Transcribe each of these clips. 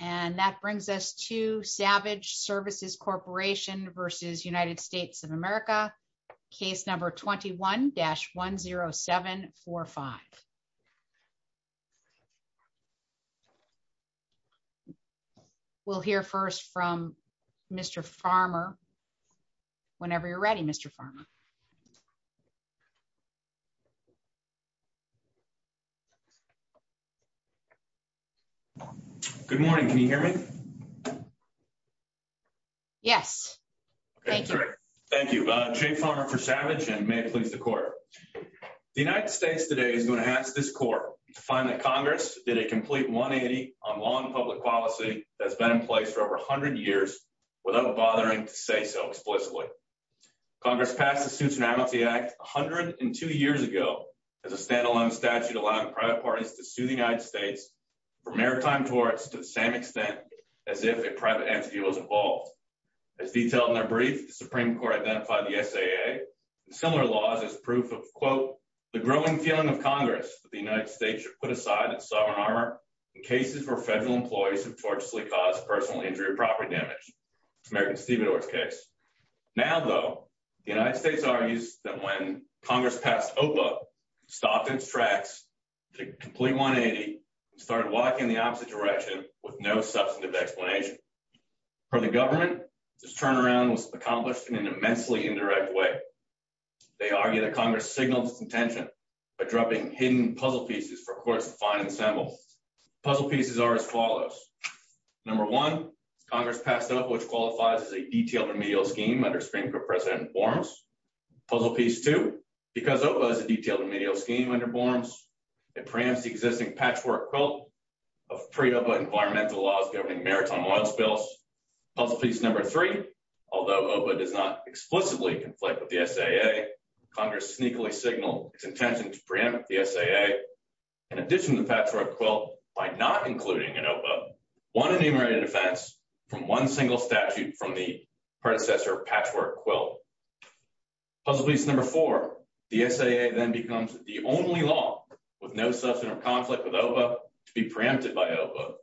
And that brings us to Savage Services Corporation v. United States of America, case number 21-10745. We'll hear first from Mr. Farmer. Whenever you're ready, Mr. Farmer. Good morning. Can you hear me? Yes. Thank you. Thank you. Jay Farmer for Savage and may it please the court. The United States today is going to ask this court to find that Congress did a complete 180 on law and public policy that's been in place for over 100 years without bothering to say so explicitly. Congress passed the Suits and Amnesty Act 102 years ago as a standalone statute allowing private parties to sue the United States for maritime torts to the same extent as if a private entity was involved. As detailed in their brief, the Supreme Court identified the SAA and similar laws as proof of, quote, that the United States should put aside its sovereign armor in cases where federal employees have tortiously caused personal injury or property damage. It's American Stevedore's case. Now, though, the United States argues that when Congress passed OPA, it stopped its tracks, did a complete 180, and started walking in the opposite direction with no substantive explanation. For the government, this turnaround was accomplished in an immensely indirect way. They argue that Congress signaled its intention by dropping hidden puzzle pieces for courts to find and assemble. Puzzle pieces are as follows. Number one, Congress passed OPA, which qualifies as a detailed remedial scheme under Supreme Court precedent forms. Puzzle piece two, because OPA is a detailed remedial scheme under forms, it preempts the existing patchwork quilt of pre-OPA environmental laws governing maritime oil spills. Puzzle piece number three, although OPA does not explicitly conflict with the SAA, Congress sneakily signaled its intention to preempt the SAA in addition to patchwork quilt by not including in OPA one enumerated offense from one single statute from the predecessor patchwork quilt. Puzzle piece number four, the SAA then becomes the only law with no substantive conflict with OPA to be preempted by OPA.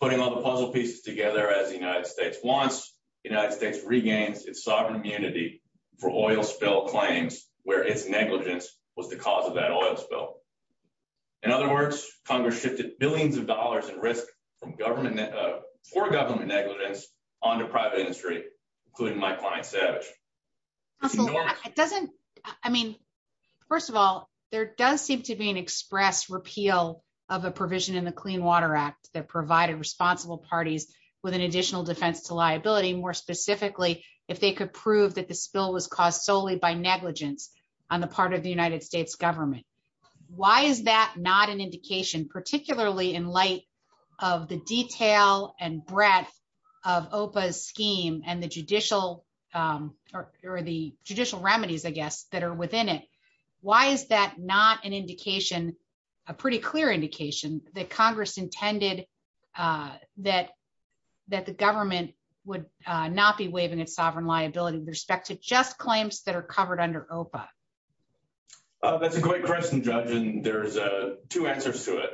Putting all the puzzle pieces together as the United States wants, the United States regains its sovereign immunity for oil spill claims where its negligence was the cause of that oil spill. In other words, Congress shifted billions of dollars in risk from government for government negligence onto private industry, including my client Savage. It doesn't, I mean, first of all, there does seem to be an express repeal of a provision in the Clean Water Act that provided responsible parties with an additional defense to liability, more specifically if they could prove that the spill was caused solely by negligence on the part of the United and breadth of OPA's scheme and the judicial or the judicial remedies, I guess, that are within it. Why is that not an indication, a pretty clear indication that Congress intended that the government would not be waiving its sovereign liability with respect to just claims that are covered under OPA? That's a great question, Judge, and there's two answers to it.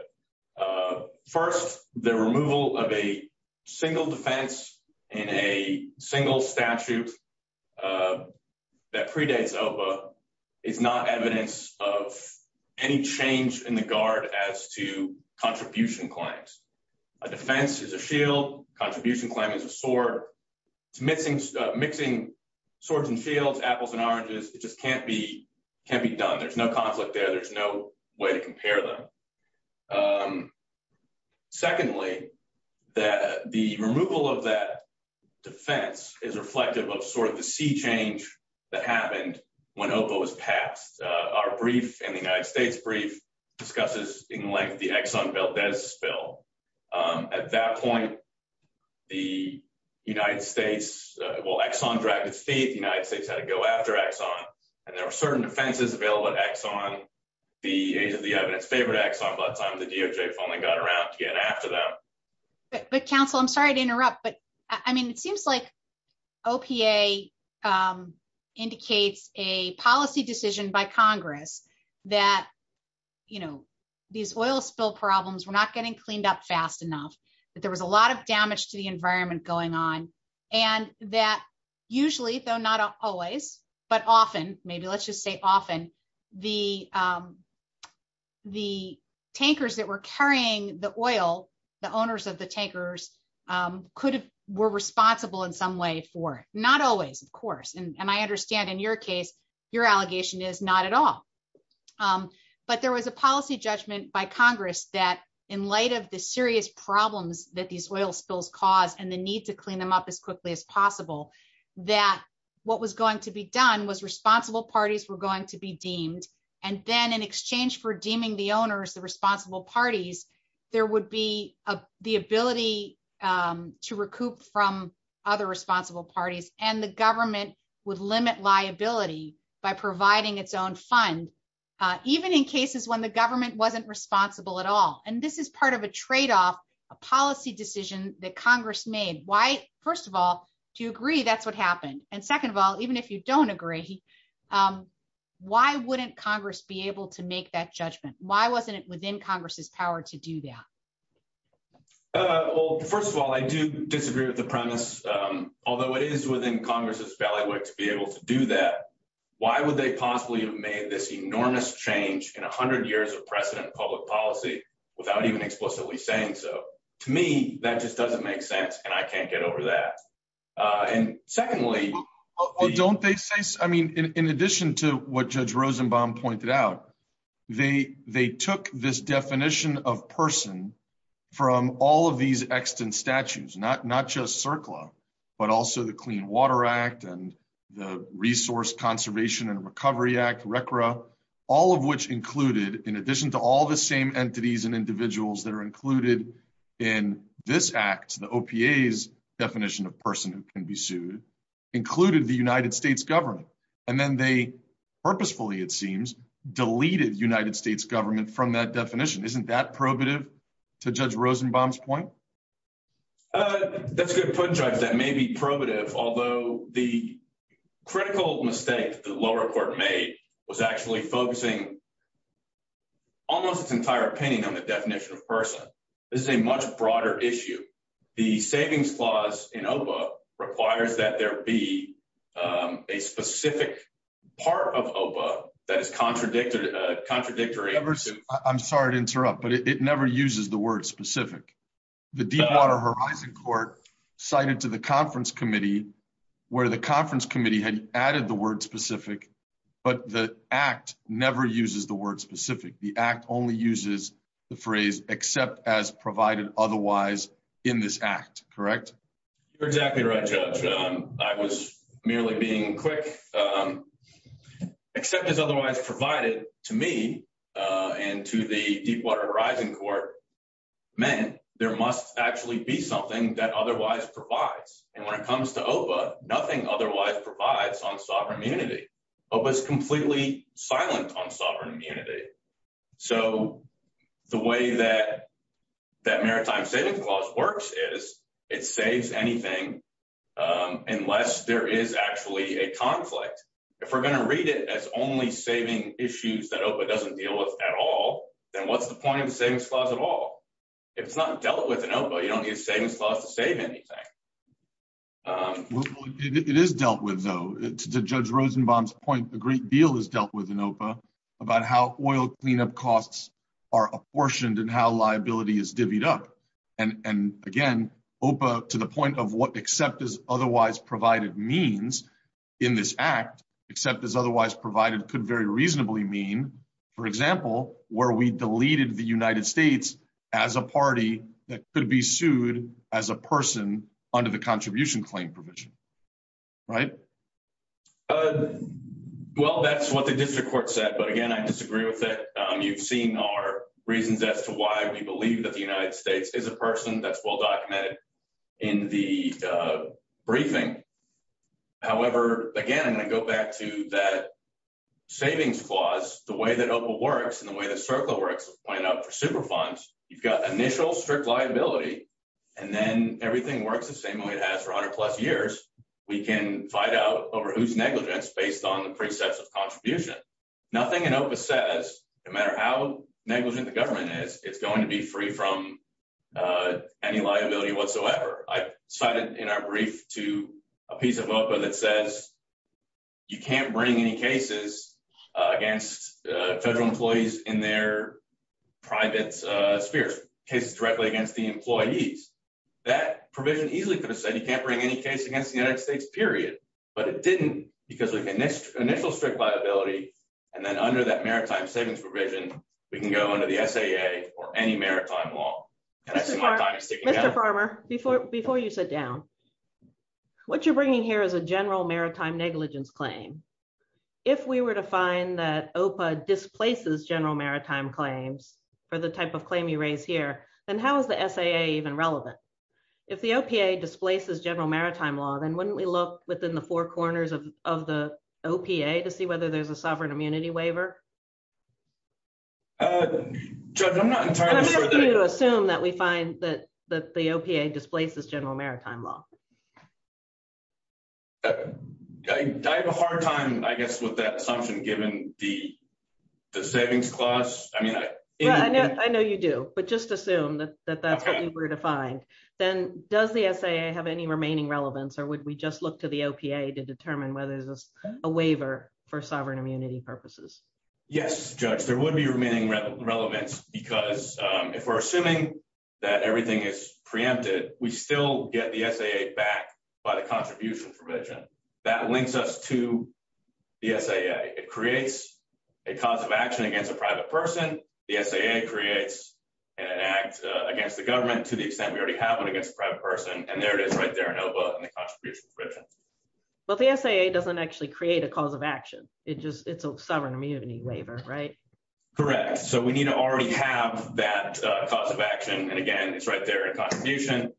First, the removal of a single defense in a single statute that predates OPA is not evidence of any change in the guard as to contribution claims. A defense is a shield. Contribution claim is a sword. It's mixing swords and shields, apples and oranges. It just can't be done. There's no way to compare them. Secondly, the removal of that defense is reflective of sort of the sea change that happened when OPA was passed. Our brief and the United States brief discusses in length the Exxon Valdez spill. At that point, the United States, well, Exxon dragged its feet. The United States had to go after Exxon, and there were certain defenses available at Exxon. The age of the evidence favored Exxon, but the DOJ finally got around to get after them. But counsel, I'm sorry to interrupt, but I mean, it seems like OPA indicates a policy decision by Congress that, you know, these oil spill problems were not getting cleaned up fast enough, that a lot of damage to the environment was going on, and that usually, though not always, but often, maybe let's just say often, the tankers that were carrying the oil, the owners of the tankers, were responsible in some way for it. Not always, of course, and I understand in your case, your allegation is not at all. But there was a policy judgment by Congress that, in light of the serious problems that these oil spills cause and the need to clean them up as quickly as possible, that what was going to be done was responsible parties were going to be deemed, and then in exchange for deeming the owners the responsible parties, there would be the ability to recoup from other responsible parties, and the government would limit liability by providing its fund, even in cases when the government wasn't responsible at all. And this is part of a trade-off, a policy decision that Congress made. Why, first of all, do you agree that's what happened? And second of all, even if you don't agree, why wouldn't Congress be able to make that judgment? Why wasn't it within Congress's power to do that? Well, first of all, I do disagree with the premise. Although it is within Congress's ballywick to be able to do that, why would they possibly have made this enormous change in 100 years of precedent public policy without even explicitly saying so? To me, that just doesn't make sense, and I can't get over that. And secondly, don't they say, I mean, in addition to what Judge Rosenbaum pointed out, they took this definition of person from all of these extant statues, not just CERCLA, but also the Clean Water Act and the Resource Conservation and Recovery Act, RECRA, all of which included, in addition to all the same entities and individuals that are included in this act, the OPA's definition of person who can be sued, included the United States government. And then they purposefully, it seems, deleted United States government from that definition. Isn't that probative to Judge Rosenbaum's point? That's a good point, Judge. That may be probative. Although the critical mistake the lower court made was actually focusing almost its entire opinion on the definition of person. This is a much broader issue. The savings clause in OPA requires that there be a specific part of OPA that is contradictory. I'm sorry to interrupt, but it never uses the word specific. The Deepwater Horizon Court cited to the conference committee where the conference committee had added the word specific, but the act never uses the word specific. The act only uses the phrase except as provided otherwise in this act, correct? You're exactly right, Judge. I was merely being quick. Except as otherwise provided to me and to the Deepwater Horizon Court, meant there must actually be something that otherwise provides. And when it comes to OPA, nothing otherwise provides on sovereign immunity. OPA's completely silent on sovereign immunity. So the way that Maritime Savings Clause works is it saves anything unless there is actually a conflict. If we're going to read it as only saving issues that OPA doesn't deal with at all, then what's the point of the savings clause at all? If it's not dealt with in OPA, you don't need a savings clause to save anything. It is dealt with though. To Judge Rosenbaum's great deal is dealt with in OPA about how oil cleanup costs are apportioned and how liability is divvied up. And again, OPA to the point of what except as otherwise provided means in this act, except as otherwise provided could very reasonably mean, for example, where we deleted the United States as a party that could be sued as a person under the contribution claim provision. Right? Well, that's what the district court said. But again, I disagree with it. You've seen our reasons as to why we believe that the United States is a person that's well documented in the briefing. However, again, I'm going to go back to that savings clause, the way that OPA works and the way that CERCLA works, as pointed out for Superfunds, you've got initial strict liability and then everything works the same way it has for 100 plus years. We can fight out over whose negligence based on the precepts of contribution. Nothing in OPA says no matter how negligent the government is, it's going to be free from any liability whatsoever. I cited in our brief to a piece of OPA that says you can't bring any cases against federal employees in their private spheres, cases directly against the employees. That provision easily could have said you can't bring any case against the United States, period. But it didn't because of initial strict liability. And then under that maritime savings provision, we can go under the SAA or any maritime law. Can I see my time sticking out? Mr. Farmer, before you sit down, what you're bringing here is a general maritime negligence claim. If we were to find that OPA displaces general maritime claims for the type of claim you raise here, then how is the SAA even relevant? If the OPA displaces general maritime law, then wouldn't we look within the four corners of the OPA to see whether there's a sovereign immunity waiver? Judge, I'm not entirely sure that I can- I'm asking you to assume that we find that the OPA displaces general maritime law. I have a hard time, I guess, with that assumption given the savings clause. I mean- I know you do, but just assume that that's what you were to find. Then does the SAA have any remaining relevance or would we just look to the OPA to determine whether there's a waiver for sovereign immunity purposes? Yes, Judge, there would be remaining relevance because if we're assuming that everything is backed by the contribution provision, that links us to the SAA. It creates a cause of action against a private person. The SAA creates an act against the government to the extent we already have one against a private person, and there it is right there in OPA in the contribution provision. Well, the SAA doesn't actually create a cause of action. It's a sovereign immunity waiver, right? Correct. We need to already have that cause of action, and again, it's right there in contribution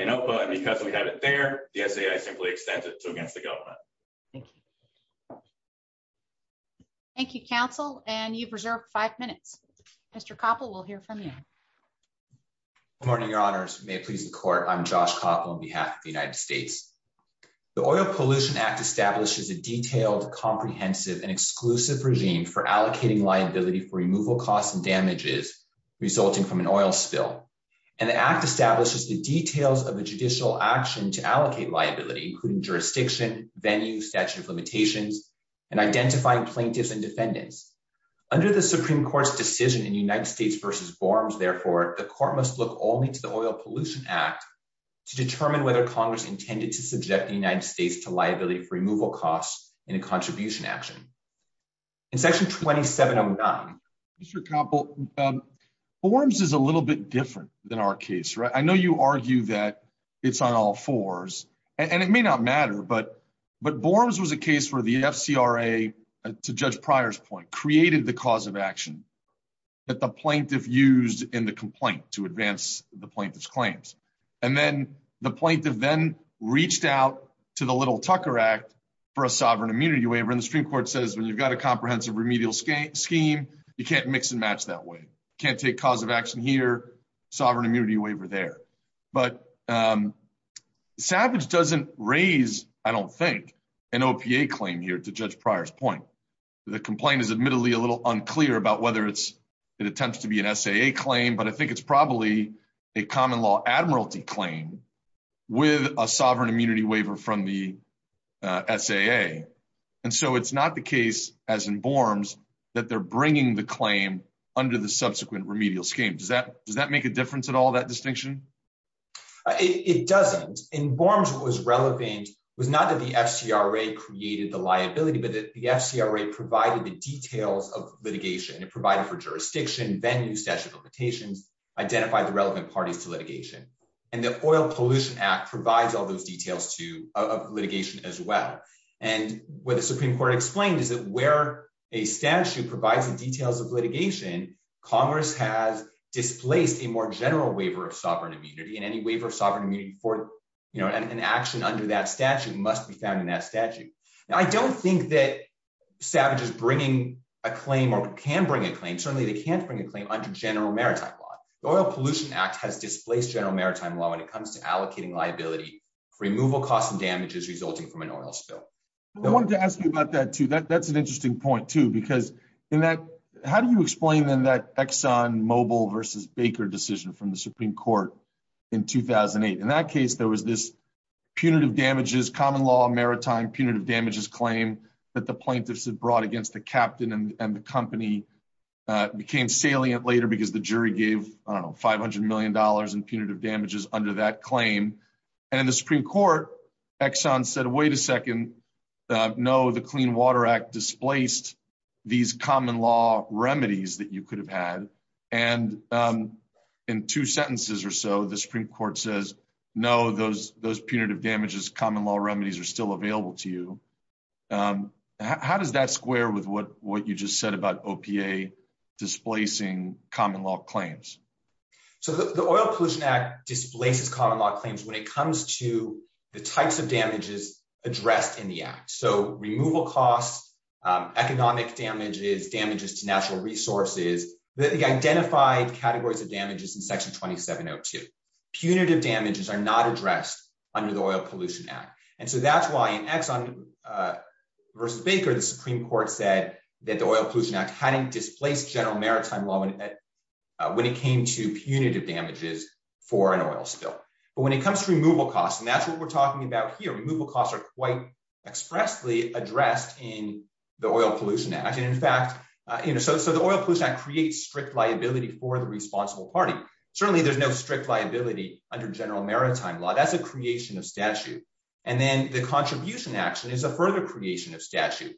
in OPA, and because we have it there, the SAA simply extends it to against the government. Thank you. Thank you, counsel, and you've reserved five minutes. Mr. Koppel, we'll hear from you. Good morning, your honors. May it please the court, I'm Josh Koppel on behalf of the United States. The Oil Pollution Act establishes a detailed, comprehensive, and exclusive regime for allocating liability for removal costs and damages resulting from an oil spill. And the act establishes the details of a judicial action to allocate liability, including jurisdiction, venue, statute of limitations, and identifying plaintiffs and defendants. Under the Supreme Court's decision in United States v. Borms, therefore, the court must look only to the Oil Pollution Act to determine whether Congress intended to subject the United States to liability for removal costs in a contribution action. In section 2709. Mr. Koppel, Borms is a little bit different than our case, right? I know you argue that it's on all fours, and it may not matter, but Borms was a case where the FCRA, to Judge Pryor's point, created the cause of action that the plaintiff used in the complaint to advance the plaintiff's claims. And then the plaintiff then reached out to Little Tucker Act for a sovereign immunity waiver, and the Supreme Court says when you've got a comprehensive remedial scheme, you can't mix and match that way. You can't take cause of action here, sovereign immunity waiver there. But Savage doesn't raise, I don't think, an OPA claim here, to Judge Pryor's point. The complaint is admittedly a little unclear about whether it attempts to be an SAA claim, but I think it's probably a common law admiralty claim with a sovereign immunity waiver from the SAA. And so it's not the case, as in Borms, that they're bringing the claim under the subsequent remedial scheme. Does that make a difference at all, that distinction? It doesn't. In Borms, what was relevant was not that the FCRA created the liability, but that the FCRA provided the details of litigation. It provided for jurisdiction, venue, statute of limitations, identified the relevant parties to litigation, and the Oil Pollution Act provides all those details of litigation as well. And what the Supreme Court explained is that where a statute provides the details of litigation, Congress has displaced a more general waiver of sovereign immunity, and any waiver of sovereign immunity for an action under that statute must be found in that statute. Now, I don't think that Savage is a claim or can bring a claim. Certainly, they can't bring a claim under general maritime law. The Oil Pollution Act has displaced general maritime law when it comes to allocating liability for removal costs and damages resulting from an oil spill. I wanted to ask you about that too. That's an interesting point too, because how do you explain then that ExxonMobil versus Baker decision from the Supreme Court in 2008? In that case, there was this punitive damages, common law maritime punitive damages claim that the plaintiffs had brought against the captain and the company became salient later because the jury gave, I don't know, $500 million in punitive damages under that claim. And in the Supreme Court, Exxon said, wait a second, no, the Clean Water Act displaced these common law remedies that you could have had. And in two sentences or so, the Supreme Court says, no, those punitive damages, common law remedies are still available to you. How does that square with what you just said about OPA displacing common law claims? So the Oil Pollution Act displaces common law claims when it comes to the types of damages addressed in the act. So removal costs, economic damages, damages to natural resources, the identified categories of damages in section 2702. Punitive damages are not addressed under the Oil Pollution Act. And so that's why in Exxon, versus Baker, the Supreme Court said that the Oil Pollution Act hadn't displaced general maritime law when it came to punitive damages for an oil spill. But when it comes to removal costs, and that's what we're talking about here, removal costs are quite expressly addressed in the Oil Pollution Act. And in fact, so the Oil Pollution Act creates strict liability for the responsible party. Certainly there's no strict liability under general maritime law. That's a creation of statute. And then the contribution action is a further creation of statute.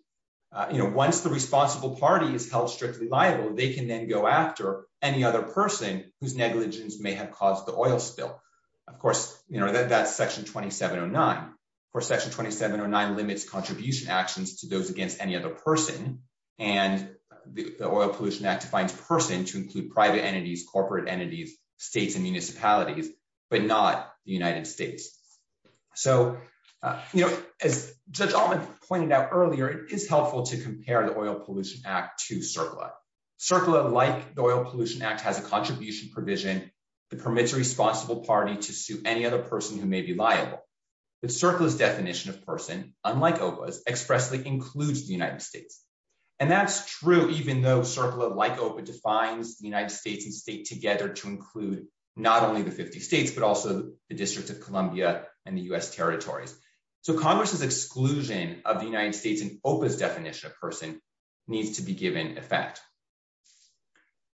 Once the responsible party is held strictly liable, they can then go after any other person whose negligence may have caused the oil spill. Of course, that's section 2709. Of course, section 2709 limits contribution actions to those against any other person. And the Oil Pollution Act defines person to include private entities, corporate entities, states, and municipalities, but not the United States. So, as Judge Altman pointed out earlier, it is helpful to compare the Oil Pollution Act to CERCLA. CERCLA, like the Oil Pollution Act, has a contribution provision that permits a responsible party to sue any other person who may be liable. But CERCLA's definition of person, unlike OPA's, expressly includes the United States. And that's true, even though CERCLA, like OPA, defines the United States and state together to include not only the 50 states, but also the District of Columbia and the U.S. territories. So, Congress's exclusion of the United States in OPA's definition of person needs to be given effect.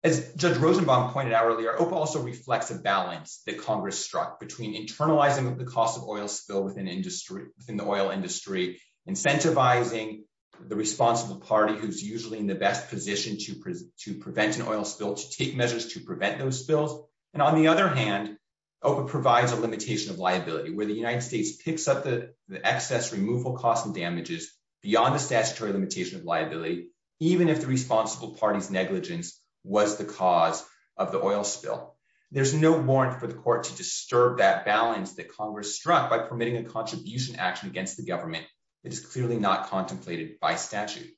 As Judge Rosenbaum pointed out earlier, OPA also reflects a balance that Congress struck between internalizing the cost of oil spill within the oil industry, incentivizing the responsible party who's usually in the best position to prevent an oil spill, to take measures to prevent those spills, and on the other hand, OPA provides a limitation of liability where the United States picks up the excess removal costs and damages beyond the statutory limitation of liability, even if the responsible party's negligence was the cause of the oil spill. There's no warrant for the court to disturb that balance that Congress struck by permitting a contribution action against the government that is clearly not contemplated by statute.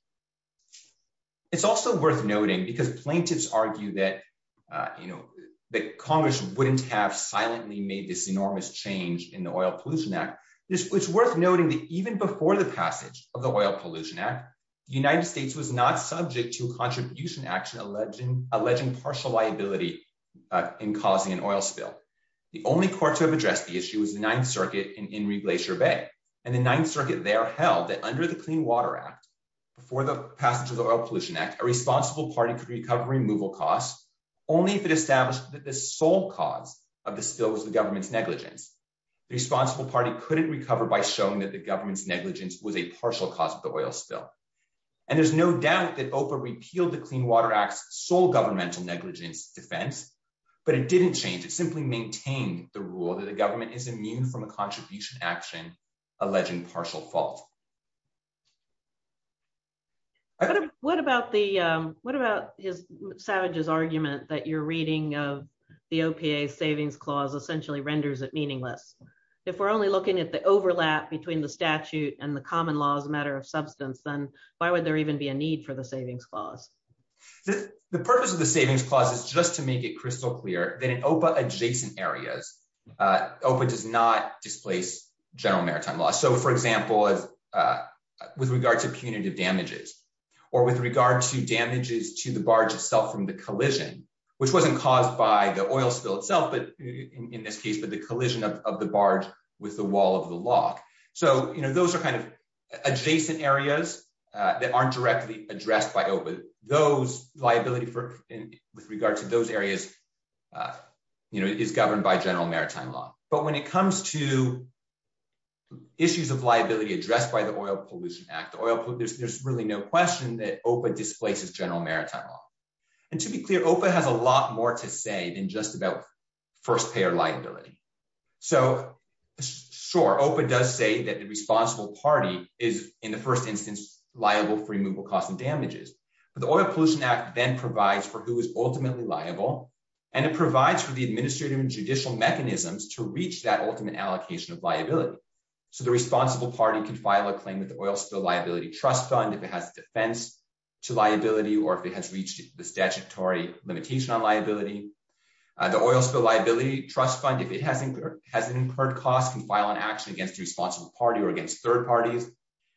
It's also worth noting, because plaintiffs argue that, you know, that Congress wouldn't have silently made this enormous change in the Oil Pollution Act, it's worth noting that even before the passage of the Oil Pollution Act, the United States was not subject to a contribution action alleging partial liability in causing an oil spill. The only court to have addressed the issue was the Ninth Circuit in Reglacier Bay, and the Ninth Circuit there held that under the Clean Water Act, before the passage of the Oil Pollution Act, a responsible party could recover removal costs only if it established that the sole cause of the spill was the government's negligence. The responsible party couldn't recover by showing that the government's negligence was a partial cause of the oil spill, and there's no doubt that OPA repealed the Clean Water Act's sole governmental negligence defense, but it didn't change. It simply maintained the rule that the What about the, what about Savage's argument that you're reading of the OPA's Savings Clause essentially renders it meaningless? If we're only looking at the overlap between the statute and the common law as a matter of substance, then why would there even be a need for the Savings Clause? The purpose of the Savings Clause is just to make it crystal clear that in OPA-adjacent areas, OPA does not displace general maritime law. So for example, as with regard to punitive damages, or with regard to damages to the barge itself from the collision, which wasn't caused by the oil spill itself, but in this case, but the collision of the barge with the wall of the lock. So, you know, those are kind of adjacent areas that aren't directly addressed by OPA. Those liability for, with regard to those areas, you know, is governed by general maritime law. But when it comes to issues of liability addressed by the Oil Pollution Act, there's really no question that OPA displaces general maritime law. And to be clear, OPA has a lot more to say than just about first-payer liability. So, sure, OPA does say that the responsible party is, in the first instance, liable for removal costs and damages. But the Oil Pollution Act then provides for who is ultimately liable, and it provides for the administrative and judicial mechanisms to reach that ultimate allocation of liability. So the responsible party can file a claim with the Oil Spill Liability Trust Fund if it has defense to liability, or if it has reached the statutory limitation on liability. The Oil Spill Liability Trust Fund, if it has incurred costs, can file an action against the responsible party or against third parties.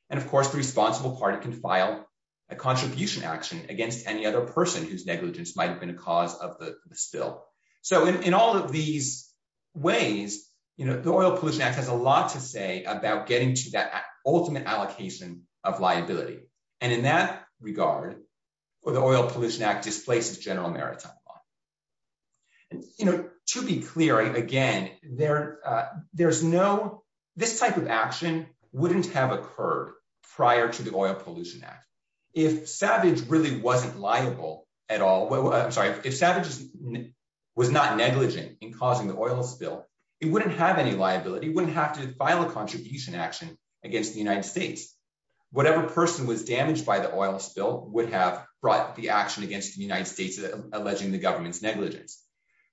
And of course, the responsible party can file a contribution action against any other person whose negligence might have been a cause of the spill. So in all of these ways, you know, the Oil Pollution Act has a lot to say about getting to that ultimate allocation of liability. And in that regard, the Oil Pollution Act displaces general maritime law. And, you know, to be clear, again, there's no, this type of action wouldn't have occurred prior to the Oil Pollution Act. If Savage really wasn't liable at all, I'm sorry, if Savage was not negligent in causing the oil spill, it wouldn't have any liability, it wouldn't have to file a contribution action against the United States. Whatever person was damaged by the oil spill would have brought the action against the United States alleging the government's negligence.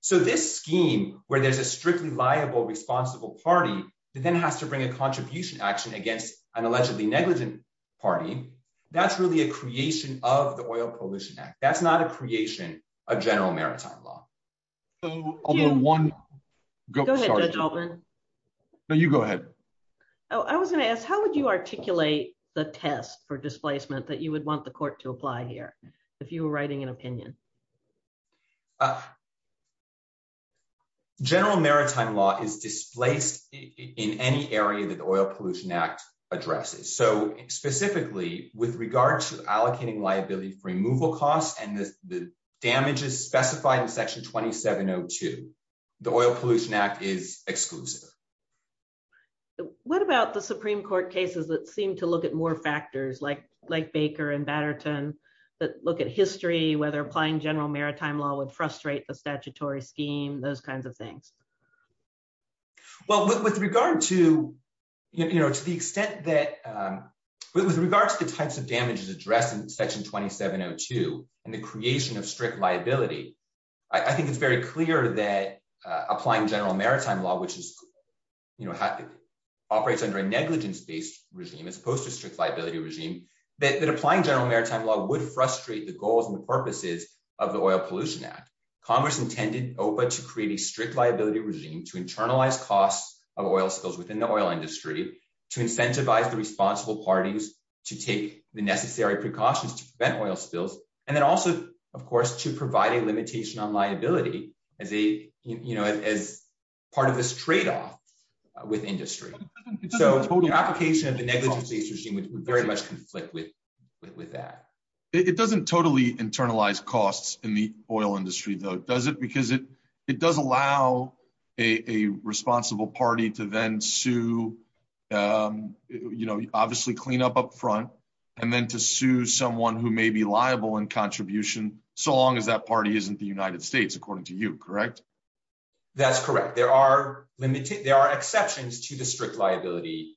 So this scheme, where there's a strictly liable responsible party, that then has to bring a contribution action against an allegedly negligent party, that's really a creation of the Oil Pollution Act. That's not a creation of general maritime law. No, you go ahead. I was gonna ask, how would you articulate the test for displacement that you would want the court to apply here, if you were writing an opinion? General maritime law is displaced in any area that the Oil Pollution Act addresses. So, specifically, with regard to allocating liability for removal costs and the damages specified in Section 2702, the Oil Pollution Act is exclusive. What about the Supreme Court cases that seem to look at more factors like Baker and Batterton, that look at history, whether applying general maritime law would frustrate the statutory scheme, those kinds of things? Well, with regard to the types of damages addressed in Section 2702, and the creation of strict liability, I think it's very clear that applying general maritime law, which operates under a negligence-based regime, as opposed to a strict liability regime, that applying general maritime law would frustrate the goals and the purposes of the Oil Pollution Act. Congress intended OPA to create a strict liability regime to internalize costs of oil spills within the oil industry, to incentivize the responsible parties to take the necessary precautions to prevent oil spills, and then also, of course, to provide a limitation on liability as part of this trade-off with industry. So, the application of the negligence-based regime would very much conflict with that. It doesn't totally internalize costs in the oil industry, though, does it? Because it does allow a responsible party to then sue, obviously, cleanup up front, and then to sue someone who may be liable in contribution, so long as that party isn't the United States, according to you, correct? That's correct. There are exceptions to the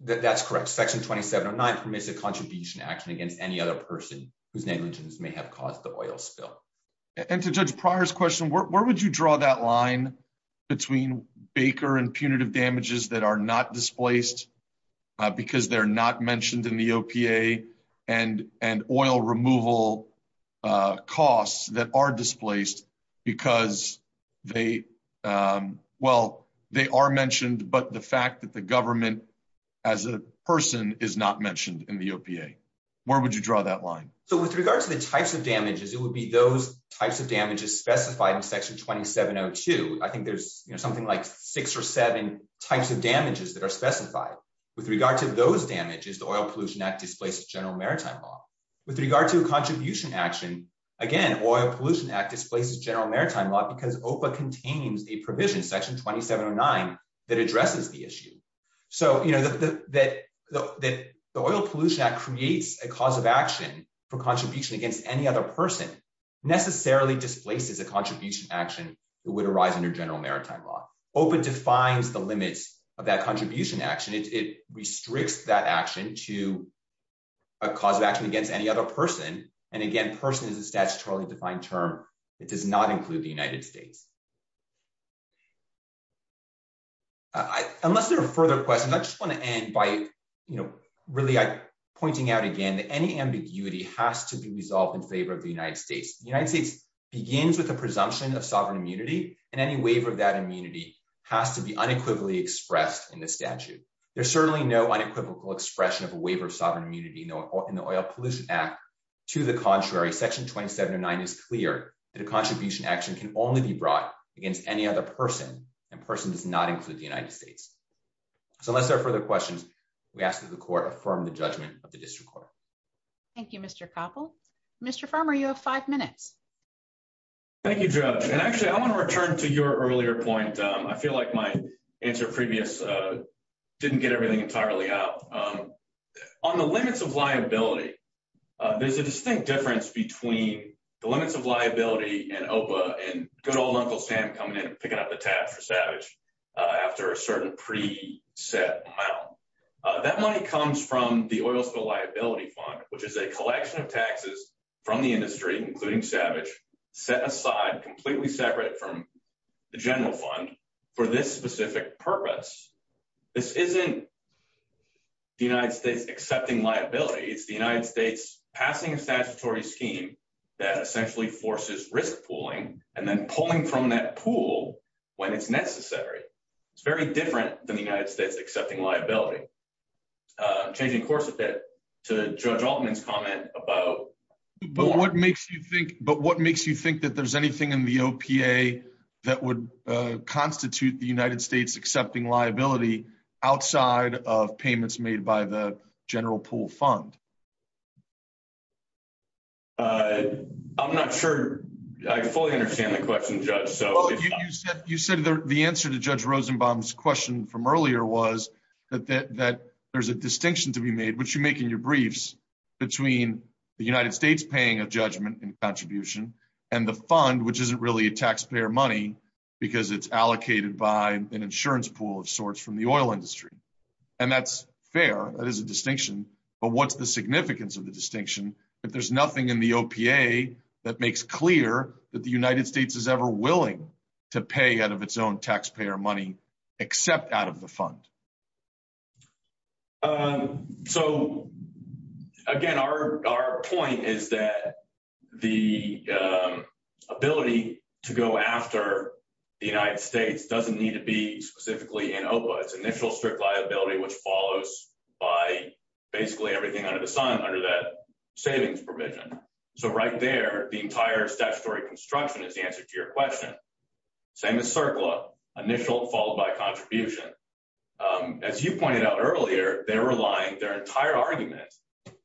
that's correct. Section 2709 permits a contribution action against any other person whose negligence may have caused the oil spill. And to Judge Pryor's question, where would you draw that line between Baker and punitive damages that are not displaced, because they're not mentioned in the OPA, and oil removal costs that are displaced because they, well, they are as a person is not mentioned in the OPA? Where would you draw that line? So, with regard to the types of damages, it would be those types of damages specified in Section 2702. I think there's, you know, something like six or seven types of damages that are specified. With regard to those damages, the Oil Pollution Act displaces General Maritime Law. With regard to a contribution action, again, Oil Pollution Act displaces General Maritime Law because OPA contains a provision, Section 2709, that addresses the issue. So, you know, that the Oil Pollution Act creates a cause of action for contribution against any other person necessarily displaces a contribution action that would arise under General Maritime Law. OPA defines the limits of that contribution action. It restricts that action to a cause of action against any other person. And again, person is a statutorily defined term. It does not include the United States. Unless there are further questions, I just want to end by, you know, really pointing out again that any ambiguity has to be resolved in favor of the United States. The United States begins with a presumption of sovereign immunity, and any waiver of that immunity has to be unequivocally expressed in the statute. There's certainly no unequivocal expression of a waiver of sovereign immunity in the Oil Pollution Act. To the contrary, Section 2709 is clear that a contribution action can only be brought against any other person, and person does not include the United States. So unless there are further questions, we ask that the Court affirm the judgment of the District Court. Thank you, Mr. Koppel. Mr. Farmer, you have five minutes. Thank you, Judge. And actually, I want to return to your earlier point. I feel like my answer previous didn't get everything entirely out. On the limits of liability, there's a distinct difference between the limits of liability and OPA and good old Uncle Sam coming in and picking up the tab for Savage after a certain pre-set amount. That money comes from the Oil Spill Liability Fund, which is a collection of taxes from the industry, including Savage, set aside completely separate from the General Fund for this specific purpose. This isn't the United States accepting liability. It's the United States passing a statutory scheme that essentially forces risk pooling and then pulling from that pool when it's necessary. It's very different than the United States accepting liability. Changing course a bit to Judge Altman's comment about... But what makes you think that there's anything in the OPA that would constitute the United States accepting liability outside of payments made by the General Pool Fund? I'm not sure I fully understand the question, Judge. You said the answer to Judge Rosenbaum's question from earlier was that there's a distinction to be made, which you make in your the United States paying a judgment in contribution and the fund, which isn't really a taxpayer money because it's allocated by an insurance pool of sorts from the oil industry. And that's fair. That is a distinction. But what's the significance of the distinction if there's nothing in the OPA that makes clear that the United States is ever willing to pay out of its own taxpayer money except out of the fund? So, again, our point is that the ability to go after the United States doesn't need to be specifically in OPA. It's initial strict liability, which follows by basically everything under the sun under that savings provision. So right there, the entire statutory construction is the answer to your question. Same as CERCLA, initial followed by contribution. And then there's as you pointed out earlier, they're relying their entire argument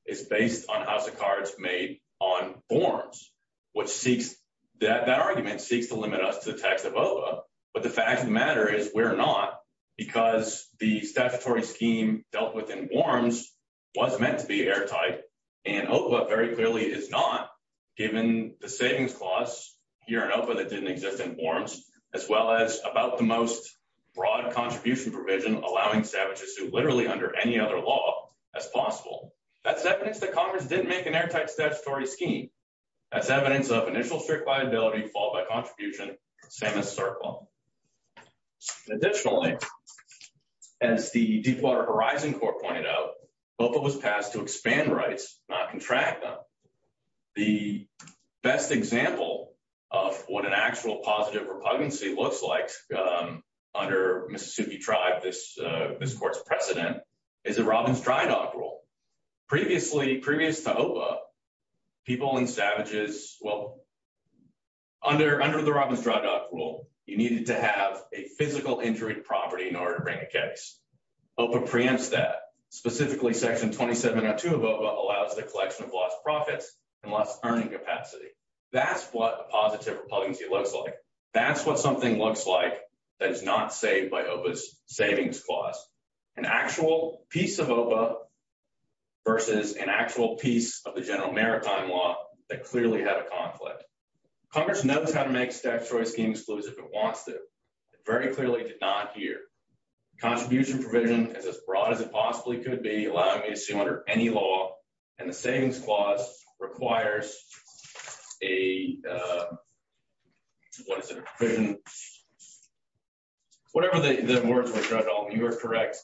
is based on House of Cards made on forms, which seeks that that argument seeks to limit us to the text of OPA. But the fact of the matter is we're not, because the statutory scheme dealt with in forms was meant to be airtight. And OPA very clearly is not, given the savings clause here in OPA that didn't exist in forms, as well as about the most broad contribution provision allowing savages to literally under any other law as possible. That's evidence that Congress didn't make an airtight statutory scheme. That's evidence of initial strict liability followed by contribution, same as CERCLA. Additionally, as the Deepwater Horizon Court pointed out, OPA was passed to repugnancy looks like under Mississippi tribe. This court's precedent is a Robbins-Drydock rule. Previously, previous to OPA, people and savages, well, under the Robbins-Drydock rule, you needed to have a physical injury to property in order to bring a case. OPA preempts that. Specifically, Section 2702 of OPA allows the collection of lost profits and lost earning capacity. That's what a positive repugnancy looks like. That's what something looks like that is not saved by OPA's savings clause. An actual piece of OPA versus an actual piece of the general maritime law that clearly had a conflict. Congress knows how to make statutory schemes exclusive. It wants to. It very clearly did not here. Contribution provision is as broad as it possibly could be, allowing me to see under any law, and the savings clause requires a, what is it? Whatever the words were, Judge Alton, you are correct.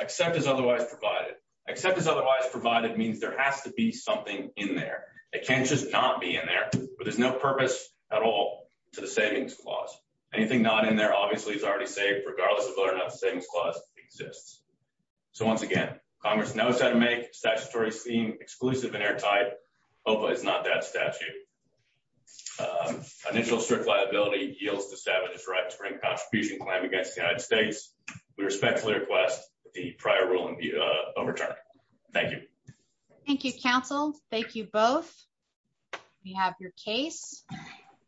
Accept is otherwise provided. Accept is otherwise provided means there has to be something in there. It can't just not be in there, but there's no purpose at all to the savings clause. Anything not in there obviously is already saved, regardless of whether or not the savings clause exists. So once again, Congress knows how to make statutory scheme exclusive and airtight. OPA is not that statute. Initial strict liability yields to savage right to bring contribution claim against the United States. We respectfully request the prior ruling be overturned. Thank you. Thank you, counsel. Thank you both. We have your case.